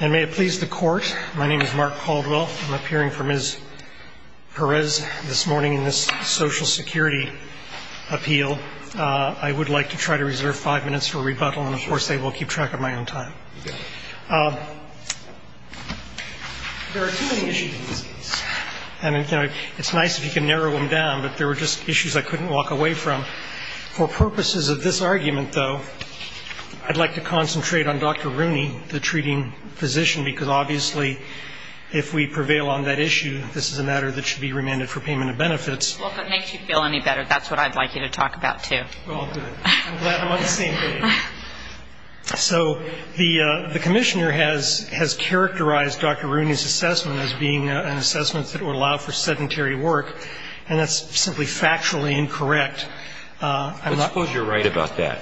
And may it please the Court, my name is Mark Caldwell. I'm appearing for Ms. Perez this morning in this Social Security appeal. I would like to try to reserve five minutes for rebuttal, and of course they will keep track of my own time. There are too many issues in this case, and it's nice if you can narrow them down, but there were just issues I couldn't walk away from. For purposes of this argument, though, I'd like to concentrate on Dr. Rooney, the treating physician, because obviously if we prevail on that issue, this is a matter that should be remanded for payment of benefits. Well, if it makes you feel any better, that's what I'd like you to talk about, too. Well, good. I'm glad I'm on the same page. So the Commissioner has characterized Dr. Rooney's assessment as being an assessment that would allow for sedentary work, and that's simply factually incorrect. I suppose you're right about that,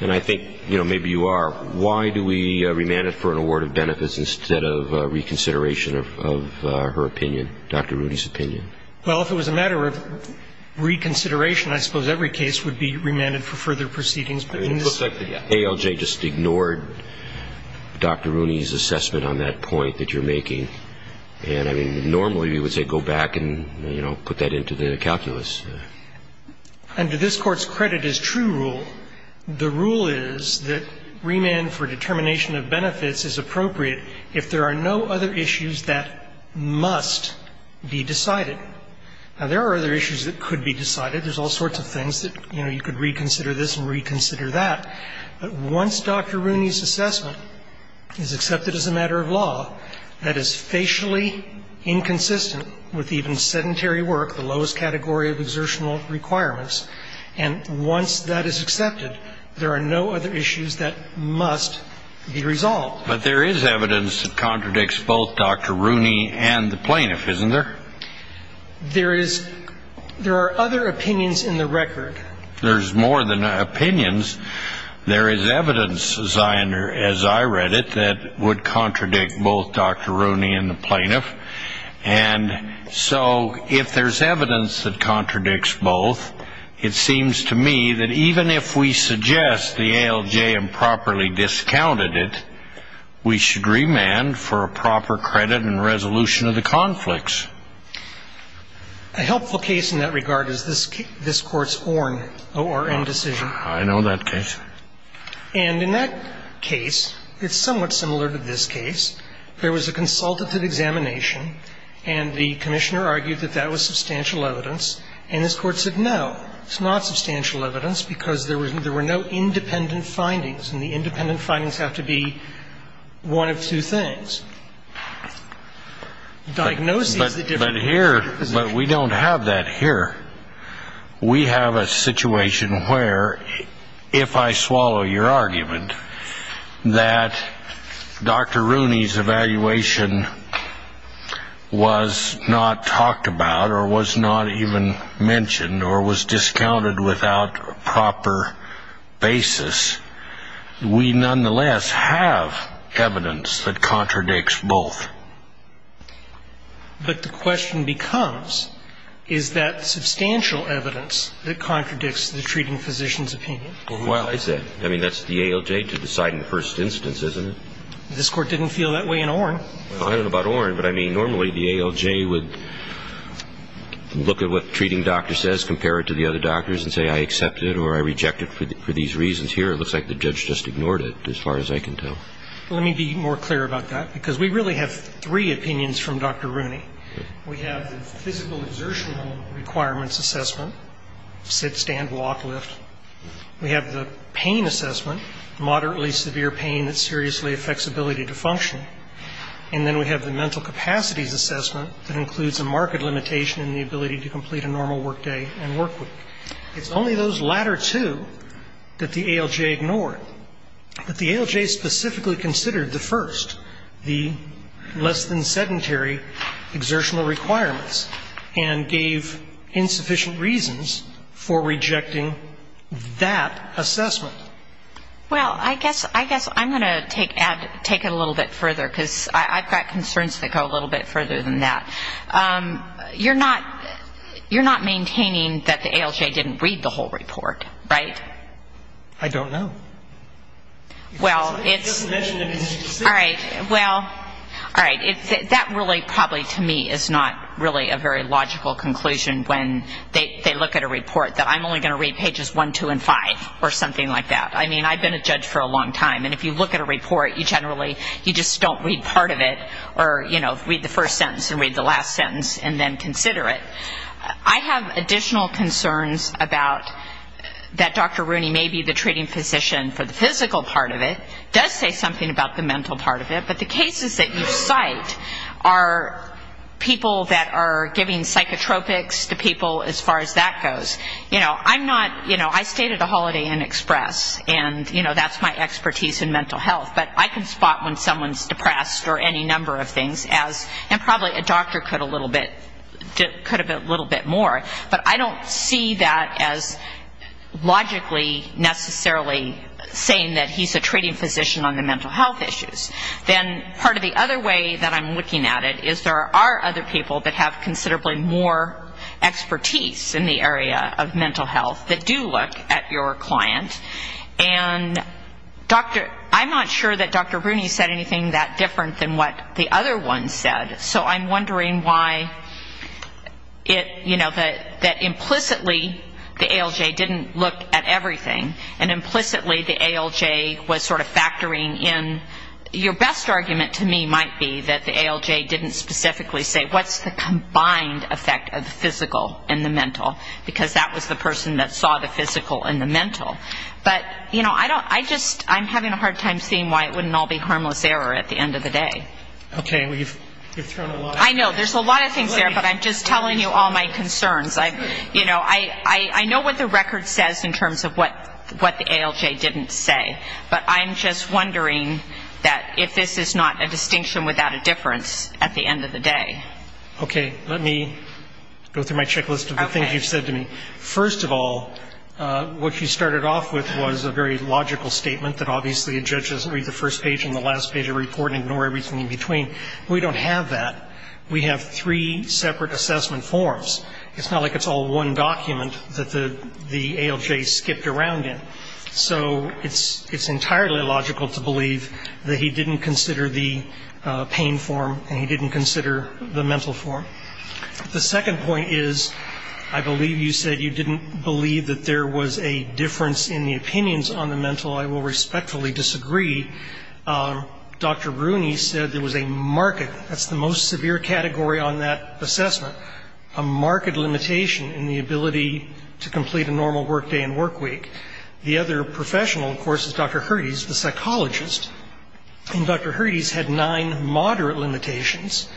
and I think, you know, maybe you are. Why do we remand it for an award of benefits instead of reconsideration of her opinion, Dr. Rooney's opinion? Well, if it was a matter of reconsideration, I suppose every case would be remanded for further proceedings. It looks like the ALJ just ignored Dr. Rooney's assessment on that point that you're making. And, I mean, normally we would say go back and, you know, put that into the calculus. Under this Court's credit as true rule, the rule is that remand for determination of benefits is appropriate if there are no other issues that must be decided. Now, there are other issues that could be decided. There's all sorts of things that, you know, you could reconsider this and reconsider that. But once Dr. Rooney's assessment is accepted as a matter of law, that is facially inconsistent with even sedentary work, the lowest category of exertional requirements. And once that is accepted, there are no other issues that must be resolved. Well, but there is evidence that contradicts both Dr. Rooney and the plaintiff, isn't there? There is. There are other opinions in the record. There's more than opinions. There is evidence, as I read it, that would contradict both Dr. Rooney and the plaintiff. And so if there's evidence that contradicts both, it seems to me that even if we suggest the ALJ improperly discounted it, we should remand for a proper credit and resolution of the conflicts. A helpful case in that regard is this Court's Orn O.R.N. decision. I know that case. And in that case, it's somewhat similar to this case. There was a consultative examination, and the Commissioner argued that that was substantial evidence. And this Court said, no, it's not substantial evidence because there were no independent findings, and the independent findings have to be one of two things. But we don't have that here. We have a situation where, if I swallow your argument that Dr. Rooney's evaluation was not talked about or was not even mentioned or was discounted without a proper basis, we nonetheless have evidence that contradicts both. But the question becomes, is that substantial evidence that contradicts the treating physician's opinion? Well, who else? I mean, that's the ALJ to decide in the first instance, isn't it? This Court didn't feel that way in Orn. I don't know about Orn, but I mean, normally the ALJ would look at what the treating doctor says, compare it to the other doctors and say, I accept it or I reject it for these reasons here. It looks like the judge just ignored it, as far as I can tell. Let me be more clear about that, because we really have three opinions from Dr. Rooney. We have the physical exertional requirements assessment, sit, stand, walk, lift. We have the pain assessment, moderately severe pain that seriously affects ability to function. And then we have the mental capacities assessment that includes a marked limitation in the ability to complete a normal workday and workweek. It's only those latter two that the ALJ ignored. But the ALJ specifically considered the first, the less than sedentary exertional requirements, and gave insufficient reasons for rejecting that assessment. Well, I guess I'm going to take it a little bit further, because I've got concerns that go a little bit further than that. You're not maintaining that the ALJ didn't read the whole report, right? I don't know. Well, it's all right. Well, all right. That really probably to me is not really a very logical conclusion when they look at a report, that I'm only going to read pages one, two, and five, or something like that. I mean, I've been a judge for a long time. And if you look at a report, you generally, you just don't read part of it, or, you know, read the first sentence and read the last sentence and then consider it. I have additional concerns about that Dr. Rooney may be the treating physician for the physical part of it, does say something about the mental part of it, but the cases that you cite are people that are giving psychotropics to people as far as that goes. You know, I'm not, you know, I stayed at a Holiday Inn Express, and, you know, that's my expertise in mental health. But I can spot when someone's depressed or any number of things as, and probably a doctor could a little bit more. But I don't see that as logically necessarily saying that he's a treating physician on the mental health issues. Then part of the other way that I'm looking at it is there are other people that have considerably more expertise in the area of mental health that do look at your client. And I'm not sure that Dr. Rooney said anything that different than what the other one said, so I'm wondering why it, you know, that implicitly the ALJ didn't look at everything, and implicitly the ALJ was sort of factoring in. Your best argument to me might be that the ALJ didn't specifically say, what's the combined effect of the physical and the mental, because that was the person that saw the physical and the mental. But, you know, I don't, I just, I'm having a hard time seeing why it wouldn't all be harmless error at the end of the day. Okay. I know, there's a lot of things there, but I'm just telling you all my concerns. You know, I know what the record says in terms of what the ALJ didn't say, but I'm just wondering that if this is not a distinction without a difference at the end of the day. Okay. Let me go through my checklist of the things you've said to me. First of all, what you started off with was a very logical statement that obviously a judge doesn't read the first page and the last page of a report and ignore everything in between. We don't have that. We have three separate assessment forms. It's not like it's all one document that the ALJ skipped around in. So it's entirely logical to believe that he didn't consider the pain form and he didn't consider the mental form. The second point is, I believe you said you didn't believe that there was a difference in the opinions on the mental. I will respectfully disagree. Dr. Rooney said there was a market, that's the most severe category on that assessment, a market limitation in the ability to complete a normal work day and work week. The other professional, of course, is Dr. Herdes, the psychologist. And Dr. Herdes had nine moderate limitations.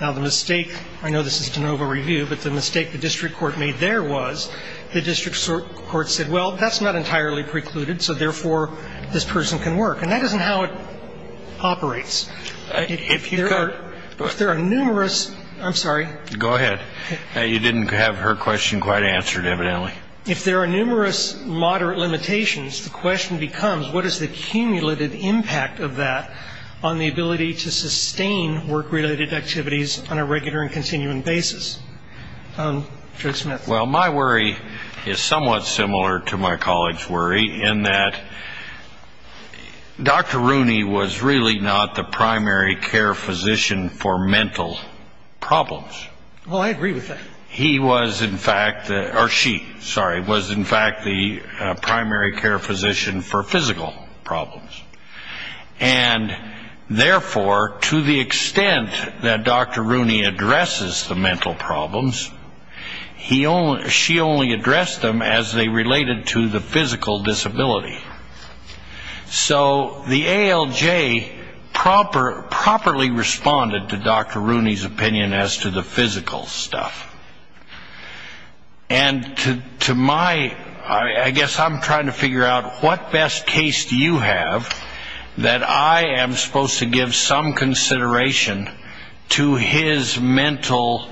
Now, the mistake, I know this is de novo review, but the mistake the district court made there was the district court said, well, that's not entirely precluded, so, therefore, this person can work. And that isn't how it operates. If there are numerous, I'm sorry. Go ahead. You didn't have her question quite answered, evidently. If there are numerous moderate limitations, the question becomes, what is the cumulated impact of that on the ability to sustain work-related activities on a regular and continuing basis? Judge Smith. Well, my worry is somewhat similar to my colleague's worry in that Dr. Rooney was really not the primary care physician for mental problems. Well, I agree with that. He was, in fact, or she, sorry, was, in fact, the primary care physician for physical problems. And, therefore, to the extent that Dr. Rooney addresses the mental problems, she only addressed them as they related to the physical disability. So the ALJ properly responded to Dr. Rooney's opinion as to the physical stuff. And to my, I guess I'm trying to figure out what best case do you have that I am supposed to give some consideration to his mental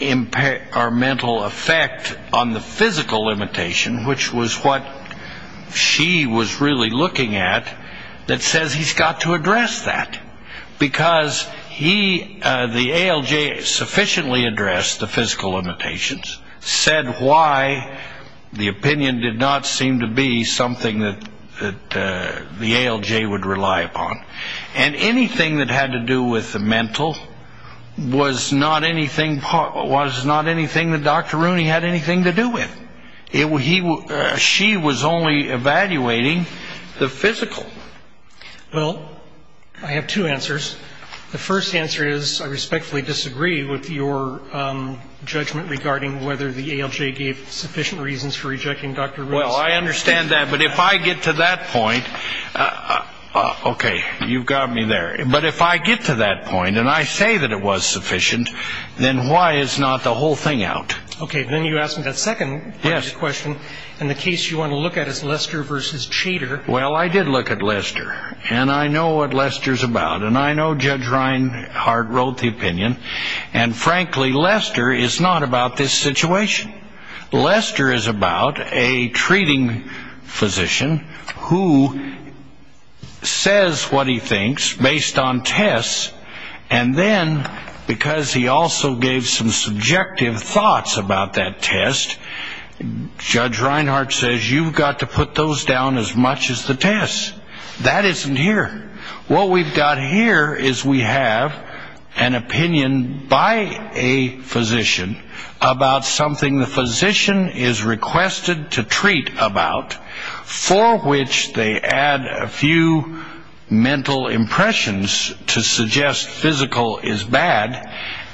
effect on the physical limitation, which was what she was really looking at, that says he's got to address that. Because he, the ALJ, sufficiently addressed the physical limitations, said why the opinion did not seem to be something that the ALJ would rely upon. And anything that had to do with the mental was not anything that Dr. Rooney had anything to do with. She was only evaluating the physical. Well, I have two answers. The first answer is I respectfully disagree with your judgment regarding whether the ALJ gave sufficient reasons for rejecting Dr. Rooney's opinion. Well, I understand that. But if I get to that point, okay, you've got me there. But if I get to that point and I say that it was sufficient, then why is not the whole thing out? Okay. Then you asked me that second part of your question. And the case you want to look at is Lester v. Chater. Well, I did look at Lester. And I know what Lester's about. And I know Judge Reinhardt wrote the opinion. And frankly, Lester is not about this situation. Lester is about a treating physician who says what he thinks based on tests, and then because he also gave some subjective thoughts about that test, Judge Reinhardt says you've got to put those down as much as the tests. That isn't here. What we've got here is we have an opinion by a physician about something the physician is requested to treat about, for which they add a few mental impressions to suggest physical is bad,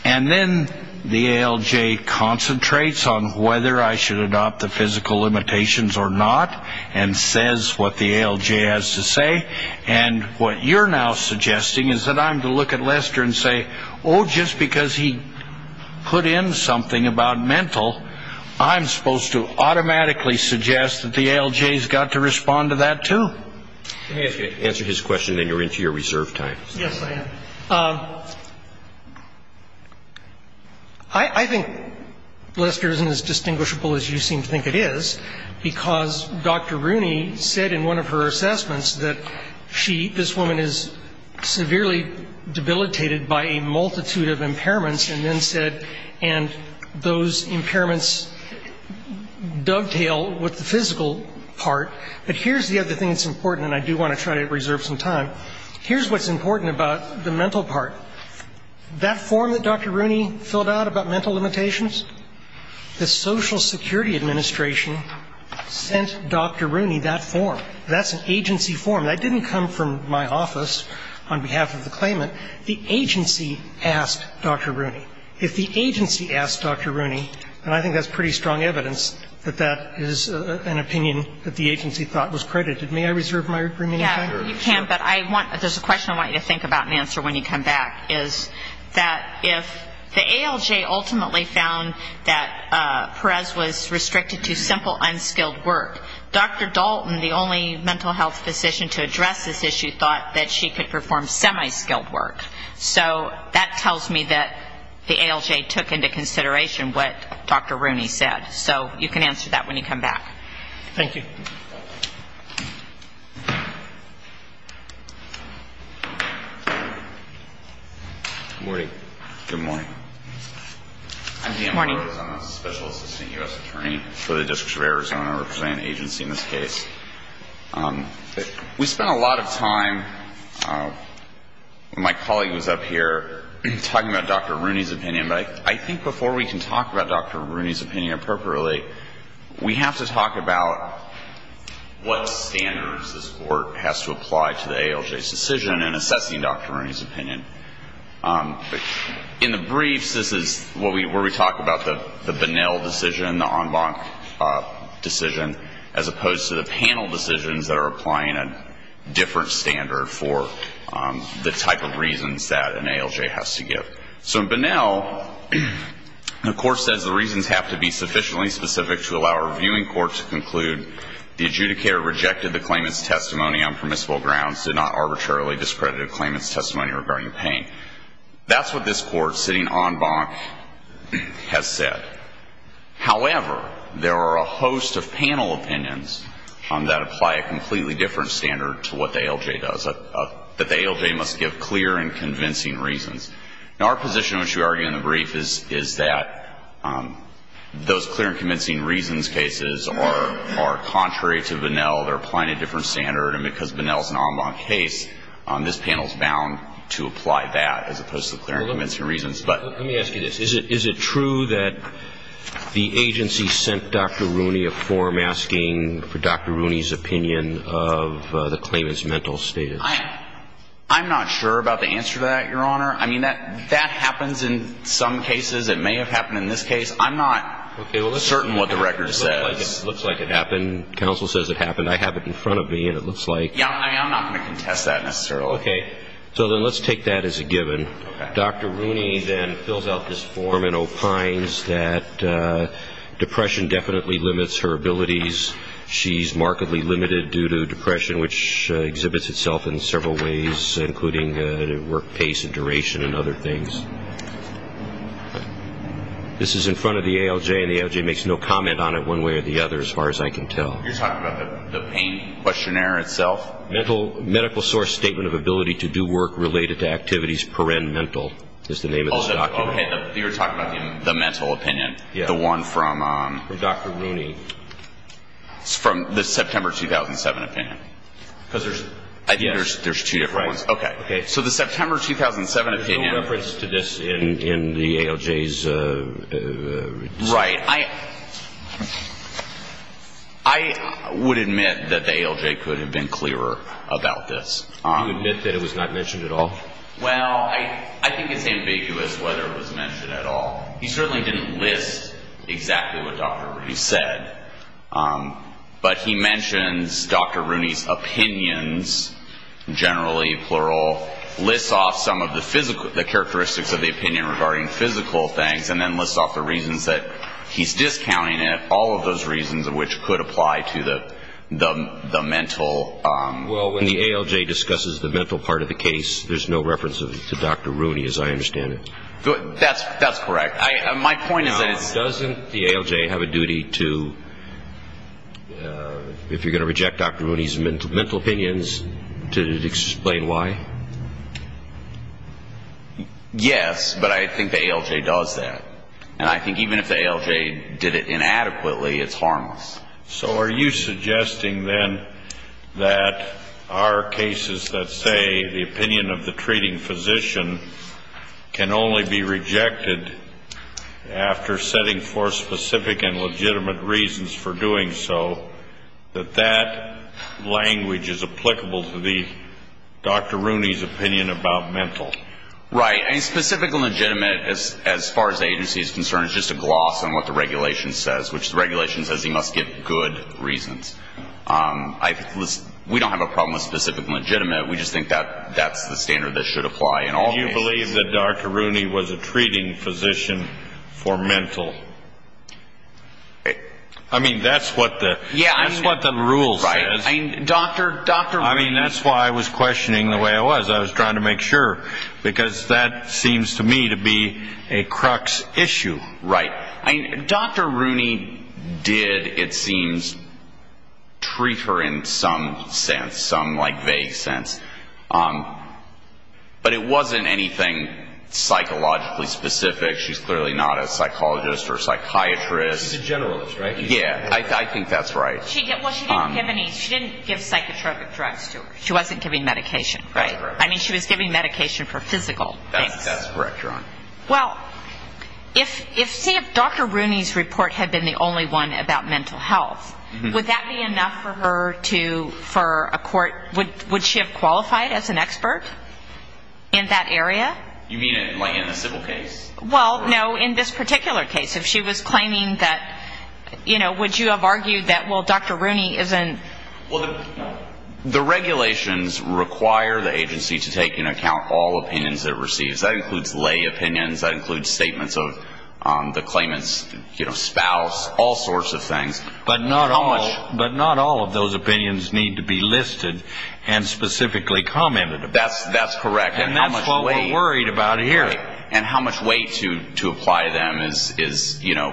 and then the ALJ concentrates on whether I should adopt the physical limitations or not and says what the ALJ has to say and what you're now suggesting is that I'm to look at Lester and say, oh, just because he put in something about mental, I'm supposed to automatically suggest that the ALJ has got to respond to that, too. Let me answer his question, then you're into your reserve time. Yes, I am. I think Lester isn't as distinguishable as you seem to think it is because Dr. Rooney said in one of her assessments that she, this woman, is severely debilitated by a multitude of impairments and then said, and those impairments dovetail with the physical part. But here's the other thing that's important, and I do want to try to reserve some time. Here's what's important about the mental part. That form that Dr. Rooney filled out about mental limitations, the Social Security Administration sent Dr. Rooney that form. That's an agency form. That didn't come from my office on behalf of the claimant. The agency asked Dr. Rooney. If the agency asked Dr. Rooney, and I think that's pretty strong evidence that that is an opinion that the agency thought was credited, may I reserve my remaining time? Yeah, you can, but I want, there's a question I want you to think about and answer when you come back, is that if the ALJ ultimately found that Perez was restricted to simple, unskilled work, Dr. Dalton, the only mental health physician to address this issue, thought that she could perform semi-skilled work. So that tells me that the ALJ took into consideration what Dr. Rooney said. So you can answer that when you come back. Thank you. Good morning. Good morning. I'm Dan Rose. I'm a Special Assistant U.S. Attorney for the District of Arizona. I represent an agency in this case. We spent a lot of time when my colleague was up here talking about Dr. Rooney's opinion, but I think before we can talk about Dr. Rooney's opinion appropriately, we have to talk about what standards this Court has to apply to the ALJ's decision in assessing Dr. Rooney's opinion. In the briefs, this is where we talk about the Bonnell decision, the En banc decision, as opposed to the panel decisions that are applying a different standard for the type of reasons that an ALJ has to give. So in Bonnell, the Court says the reasons have to be sufficiently specific to allow a reviewing court to conclude the adjudicator rejected the claimant's testimony on permissible grounds, did not arbitrarily discredit a claimant's testimony regarding pain. That's what this Court, sitting en banc, has said. However, there are a host of panel opinions that apply a completely different standard to what the ALJ does, that the ALJ must give clear and convincing reasons. Now, our position, which we argue in the brief, is that those clear and convincing reasons cases are contrary to Bonnell. They're applying a different standard, and because Bonnell's an en banc case, this panel's bound to apply that as opposed to clear and convincing reasons. But let me ask you this. Is it true that the agency sent Dr. Rooney a form asking for Dr. Rooney's opinion of the claimant's mental status? I'm not sure about the answer to that, Your Honor. I mean, that happens in some cases. It may have happened in this case. I'm not certain what the record says. It looks like it happened. Counsel says it happened. I have it in front of me, and it looks like. Yeah, I'm not going to contest that necessarily. Okay. So then let's take that as a given. Okay. Dr. Rooney then fills out this form and opines that depression definitely limits her abilities. She's markedly limited due to depression, which exhibits itself in several ways, including work pace and duration and other things. This is in front of the ALJ, and the ALJ makes no comment on it one way or the other, as far as I can tell. You're talking about the pain questionnaire itself? Medical source statement of ability to do work related to activities per-en-mental is the name of this document. Oh, okay. You're talking about the mental opinion, the one from... From Dr. Rooney. It's from the September 2007 opinion. I think there's two different ones. Right. Okay. So the September 2007 opinion... There's no reference to this in the ALJ's... Right. I would admit that the ALJ could have been clearer about this. Do you admit that it was not mentioned at all? Well, I think it's ambiguous whether it was mentioned at all. He certainly didn't list exactly what Dr. Rooney said, but he mentions Dr. Rooney's opinions, generally, plural, lists off some of the characteristics of the opinion regarding physical things, and then lists off the reasons that he's discounting it, all of those reasons which could apply to the mental... Well, when the ALJ discusses the mental part of the case, there's no reference to Dr. Rooney, as I understand it. My point is that it's... Doesn't the ALJ have a duty to, if you're going to reject Dr. Rooney's mental opinions, to explain why? Yes, but I think the ALJ does that. And I think even if the ALJ did it inadequately, it's harmless. So are you suggesting then that our cases that say the opinion of the treating physician can only be rejected after setting forth specific and legitimate reasons for doing so, that that language is applicable to Dr. Rooney's opinion about mental? Right. And specific and legitimate, as far as the agency is concerned, is just a gloss on what the regulation says, which the regulation says he must give good reasons. We don't have a problem with specific and legitimate. We just think that that's the standard that should apply. Do you believe that Dr. Rooney was a treating physician for mental? I mean, that's what the rule says. Dr. Rooney... I mean, that's why I was questioning the way I was. I was trying to make sure, because that seems to me to be a crux issue. Right. Dr. Rooney did, it seems, treat her in some sense, some vague sense. But it wasn't anything psychologically specific. She's clearly not a psychologist or a psychiatrist. She's a generalist, right? Yeah. I think that's right. Well, she didn't give any, she didn't give psychotropic drugs to her. She wasn't giving medication, right? That's correct. I mean, she was giving medication for physical things. That's correct, Your Honor. Well, see, if Dr. Rooney's report had been the only one about mental health, would that be enough for her to, for a court, would she have qualified as an expert in that area? You mean like in a civil case? Well, no, in this particular case. If she was claiming that, you know, would you have argued that, well, Dr. Rooney isn't... Well, the regulations require the agency to take into account all opinions it receives. That includes lay opinions. That includes statements of the claimant's, you know, spouse, all sorts of things. But not all of those opinions need to be listed and specifically commented upon. That's correct. And that's what we're worried about here. Right. And how much weight to apply to them is, you know,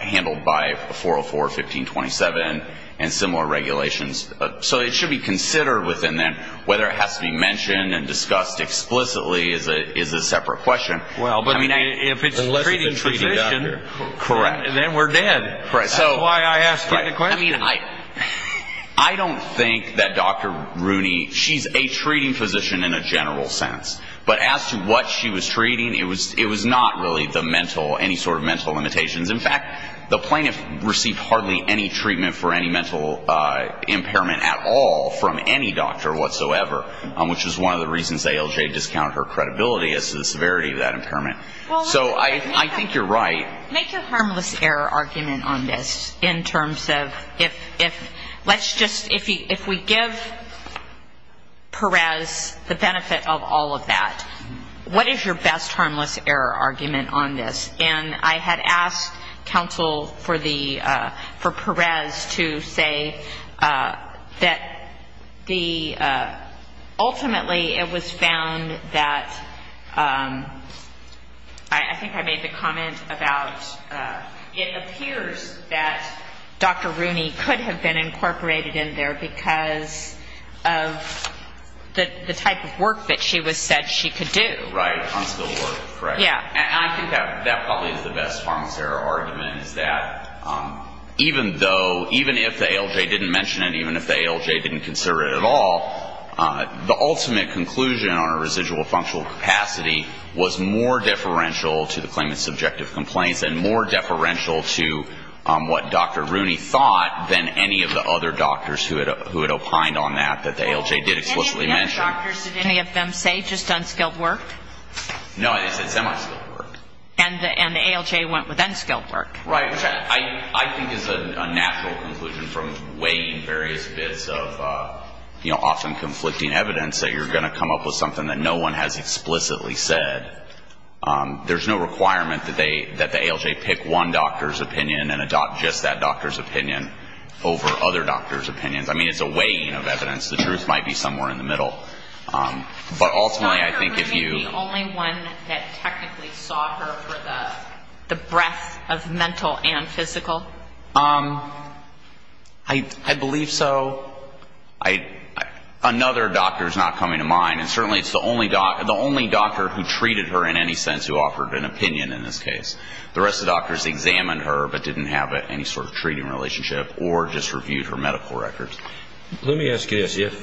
handled by 404, 1527 and similar regulations. So it should be considered within that whether it has to be mentioned and discussed explicitly is a separate question. Well, but if it's treating physician, then we're dead. That's why I asked you the question. I mean, I don't think that Dr. Rooney, she's a treating physician in a general sense. But as to what she was treating, it was not really the mental, any sort of mental limitations. In fact, the plaintiff received hardly any treatment for any mental impairment at all from any doctor whatsoever, which is one of the reasons ALJ discounted her credibility as to the severity of that impairment. So I think you're right. Make your harmless error argument on this in terms of if let's just, if we give Perez the benefit of all of that, what is your best harmless error argument on this? And I had asked counsel for the, for Perez to say that the, ultimately it was found that, I think I made the comment about, it appears that Dr. Rooney could have been incorporated in there because of the type of work that she was said she could do. Right. Unskilled work, correct? Yeah. And I think that probably is the best harmless error argument is that even though, even if the ALJ didn't mention it, even if the ALJ didn't consider it at all, the ultimate conclusion on a residual functional capacity was more deferential to the claimant's subjective complaints and more deferential to what Dr. Rooney thought than any of the other doctors who had opined on that, that the ALJ did explicitly mention. And the other doctors, did any of them say just unskilled work? No, they said semi-skilled work. And the ALJ went with unskilled work. Right. Which I think is a natural conclusion from weighing various bits of, you know, often conflicting evidence that you're going to come up with something that no one has explicitly said. There's no requirement that they, that the ALJ pick one doctor's opinion and adopt just that doctor's opinion over other doctors' opinions. I mean, it's a weighing of evidence. The truth might be somewhere in the middle. But ultimately, I think if you. Was Dr. Rooney the only one that technically saw her for the breadth of mental and physical? I believe so. Another doctor is not coming to mind. And certainly it's the only doctor who treated her in any sense who offered an opinion in this case. The rest of the doctors examined her but didn't have any sort of treating relationship or just reviewed her medical records. Let me ask you this.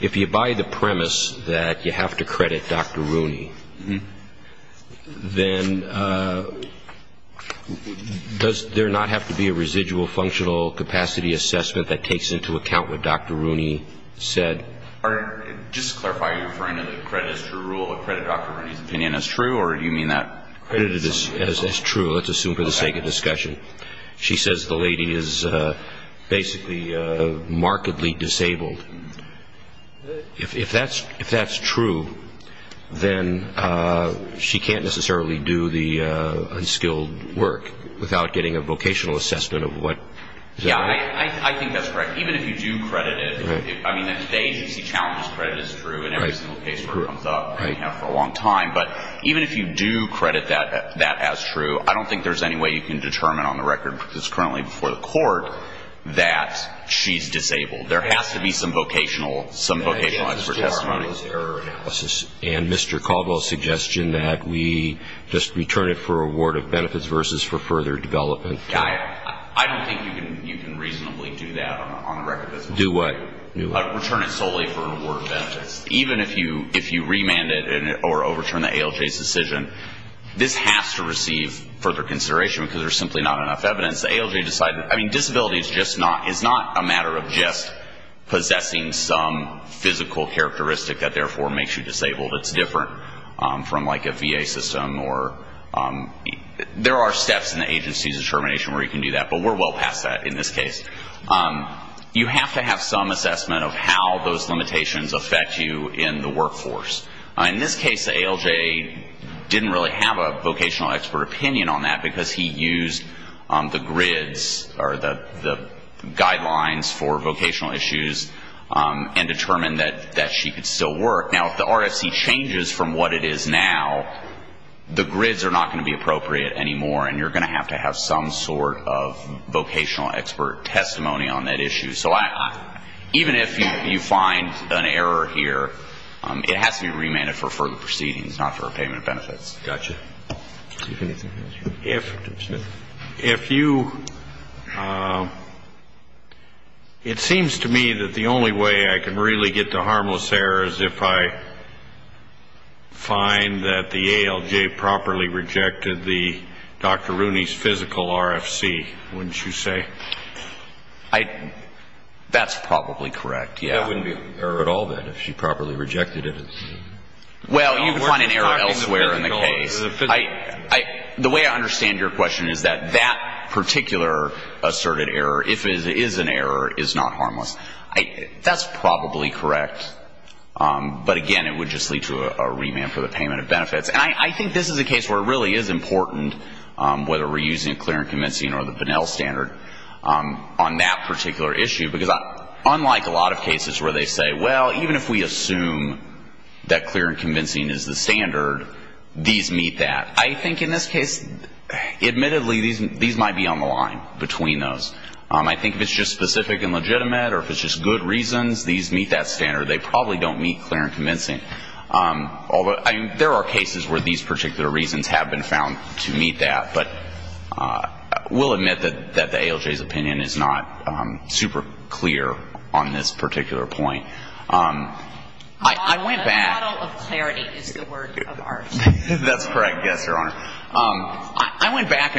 If you buy the premise that you have to credit Dr. Rooney, then does there not have to be a residual functional capacity assessment that takes into account what Dr. Rooney said? Just to clarify, you're referring to the credit as true rule, or credit Dr. Rooney's opinion as true, or do you mean that? Credit as true, let's assume for the sake of discussion. She says the lady is basically markedly disabled. If that's true, then she can't necessarily do the unskilled work without getting a vocational assessment of what. Yeah, I think that's correct. Even if you do credit it. I mean, at today's you see challenges. Credit is true in every single case where it comes up for a long time. But even if you do credit that as true, I don't think there's any way you can determine on the record, because it's currently before the court, that she's disabled. There has to be some vocationalized testimony. And Mr. Caldwell's suggestion that we just return it for award of benefits versus for further development. I don't think you can reasonably do that on the record. Do what? Return it solely for award of benefits. Even if you remand it or overturn the ALJ's decision, this has to receive further consideration, because there's simply not enough evidence. The ALJ decided that, I mean, disability is not a matter of just possessing some physical characteristic that therefore makes you disabled. It's different from like a VA system. There are steps in the agency's determination where you can do that, but we're well past that in this case. You have to have some assessment of how those limitations affect you in the workforce. In this case, the ALJ didn't really have a vocational expert opinion on that, because he used the grids or the guidelines for vocational issues and determined that she could still work. Now, if the RFC changes from what it is now, the grids are not going to be appropriate anymore, and you're going to have to have some sort of vocational expert testimony on that issue. So even if you find an error here, it has to be remanded for further proceedings, not for repayment of benefits. Gotcha. If you ‑‑ it seems to me that the only way I can really get to harmless errors if I find that the ALJ properly rejected the Dr. Rooney's physical RFC, wouldn't you say? That's probably correct, yeah. It wouldn't be an error at all, then, if she properly rejected it. Well, you would find an error elsewhere in the case. The way I understand your question is that that particular asserted error, if it is an error, is not harmless. That's probably correct, but again, it would just lead to a remand for the payment of benefits. And I think this is a case where it really is important, whether we're using a clear and convincing or the Pinnell standard on that particular issue, because unlike a lot of cases where they say, well, even if we assume that clear and convincing is the standard, these meet that. I think in this case, admittedly, these might be on the line between those. I think if it's just specific and legitimate or if it's just good reasons, these meet that standard. They probably don't meet clear and convincing. Although, I mean, there are cases where these particular reasons have been found to meet that, but we'll admit that the ALJ's opinion is not super clear on this particular point. I went back. A model of clarity is the work of art. That's correct, yes, Your Honor. I went back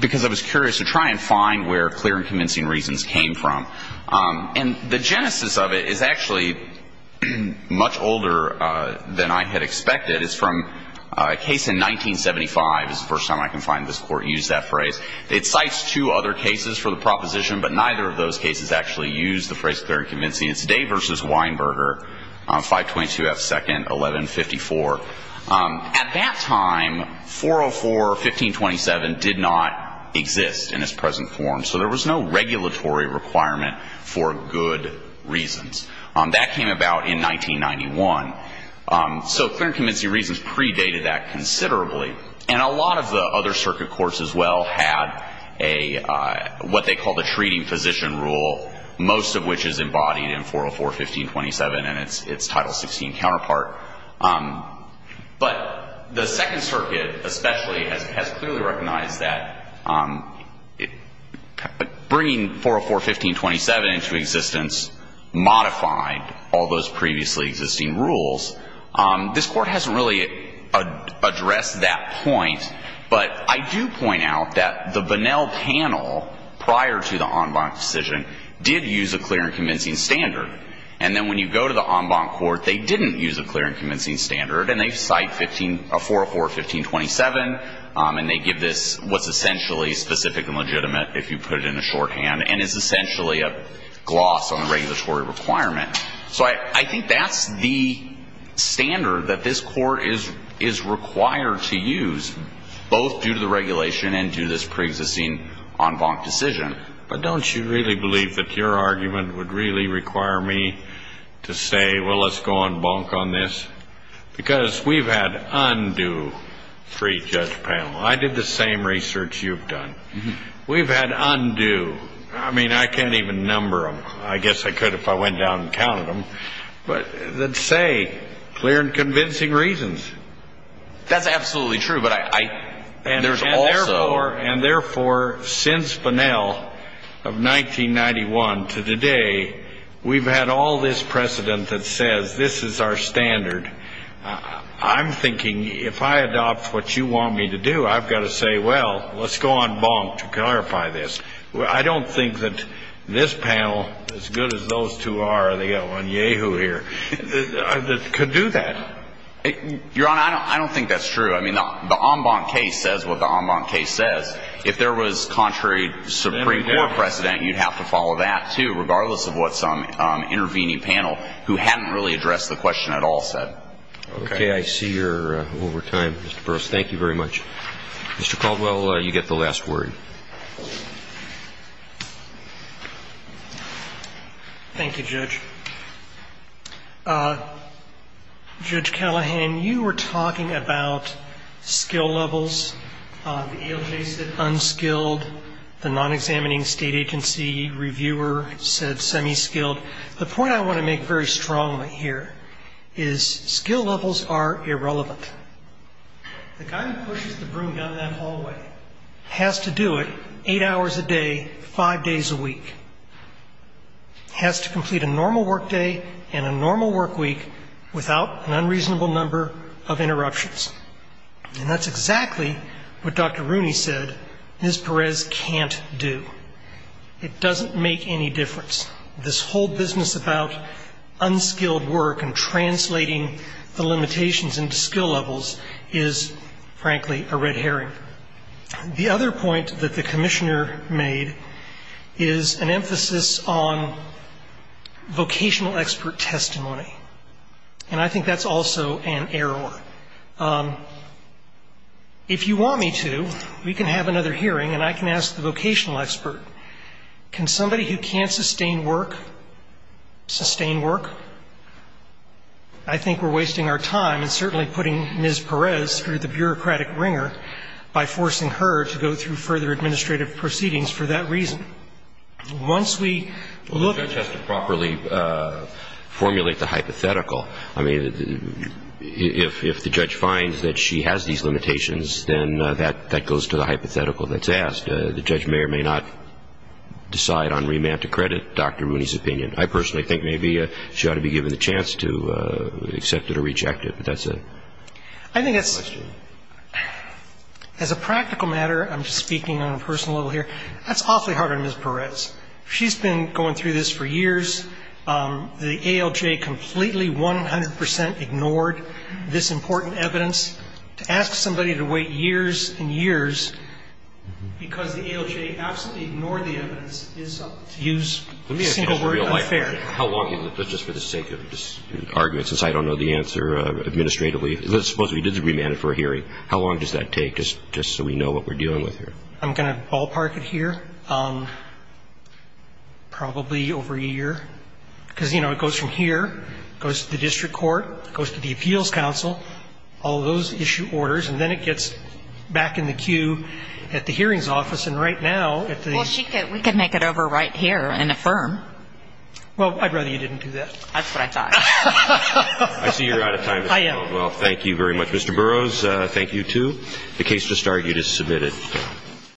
because I was curious to try and find where clear and convincing reasons came from. And the genesis of it is actually much older than I had expected. It's from a case in 1975. It's the first time I can find this court use that phrase. It cites two other cases for the proposition, but neither of those cases actually use the phrase clear and convincing. It's Day v. Weinberger, 522 F. 2nd, 1154. At that time, 404 or 1527 did not exist in its present form. So there was no regulatory requirement for good reasons. That came about in 1991. So clear and convincing reasons predated that considerably. And a lot of the other circuit courts as well had what they called the treating physician rule, most of which is embodied in 404, 1527 and its Title 16 counterpart. But the Second Circuit especially has clearly recognized that bringing 404, 1527 into existence modified all those previously existing rules. This Court hasn't really addressed that point. But I do point out that the Bonnell panel, prior to the en banc decision, did use a clear and convincing standard. And then when you go to the en banc court, they didn't use a clear and convincing standard. And they cite 404, 1527. And they give this what's essentially specific and legitimate, if you put it in a shorthand, and it's essentially a gloss on the regulatory requirement. So I think that's the standard that this Court is required to use, both due to the regulation and due to this preexisting en banc decision. But don't you really believe that your argument would really require me to say, well, let's go en banc on this? Because we've had undue three judge panels. I did the same research you've done. We've had undue. I mean, I can't even number them. I guess I could if I went down and counted them. But they'd say clear and convincing reasons. That's absolutely true. And therefore, since Bunnell of 1991 to today, we've had all this precedent that says this is our standard. I'm thinking if I adopt what you want me to do, I've got to say, well, let's go en banc to clarify this. I don't think that this panel, as good as those two are, they've got one yay-hoo here, could do that. Your Honor, I don't think that's true. I mean, the en banc case says what the en banc case says. If there was contrary Supreme Court precedent, you'd have to follow that, too, regardless of what some intervening panel who hadn't really addressed the question at all said. Okay, I see you're over time, Mr. Burris. Thank you very much. Mr. Caldwell, you get the last word. Thank you, Judge. Judge Callahan, you were talking about skill levels. The ALJ said unskilled. The non-examining state agency reviewer said semi-skilled. The point I want to make very strongly here is skill levels are irrelevant. The guy who pushes the broom down that hallway has to do it eight hours a day, five days a week, has to complete a normal work day and a normal work week without an unreasonable number of interruptions. And that's exactly what Dr. Rooney said Ms. Perez can't do. It doesn't make any difference. This whole business about unskilled work and translating the limitations into skill levels is, frankly, a red herring. The other point that the commissioner made is an emphasis on vocational expert testimony. And I think that's also an error. If you want me to, we can have another hearing and I can ask the vocational expert, can somebody who can't sustain work sustain work? I think we're wasting our time and certainly putting Ms. Perez through the bureaucratic wringer by forcing her to go through further administrative proceedings for that reason. Once we look at the... The judge has to properly formulate the hypothetical. I mean, if the judge finds that she has these limitations, then that goes to the hypothetical that's asked. The judge may or may not decide on remand to credit Dr. Rooney's opinion. I personally think maybe she ought to be given the chance to accept it or reject it. But that's it. I think it's... Next question. As a practical matter, I'm speaking on a personal level here, that's awfully hard on Ms. Perez. She's been going through this for years. The ALJ completely, 100 percent ignored this important evidence. To ask somebody to wait years and years because the ALJ absolutely ignored the evidence is... Let me ask you this real life question. How long is it? Just for the sake of argument, since I don't know the answer administratively. Let's suppose we did the remand for a hearing. How long does that take, just so we know what we're dealing with here? I'm going to ballpark it here. Probably over a year. Because, you know, it goes from here, goes to the district court, goes to the appeals council, all those issue orders. And then it gets back in the queue at the hearings office. And right now at the... We could make it over right here in a firm. Well, I'd rather you didn't do that. That's what I thought. I see you're out of time as well. I am. Well, thank you very much, Mr. Burroughs. Thank you, too. The case to start, you just submitted.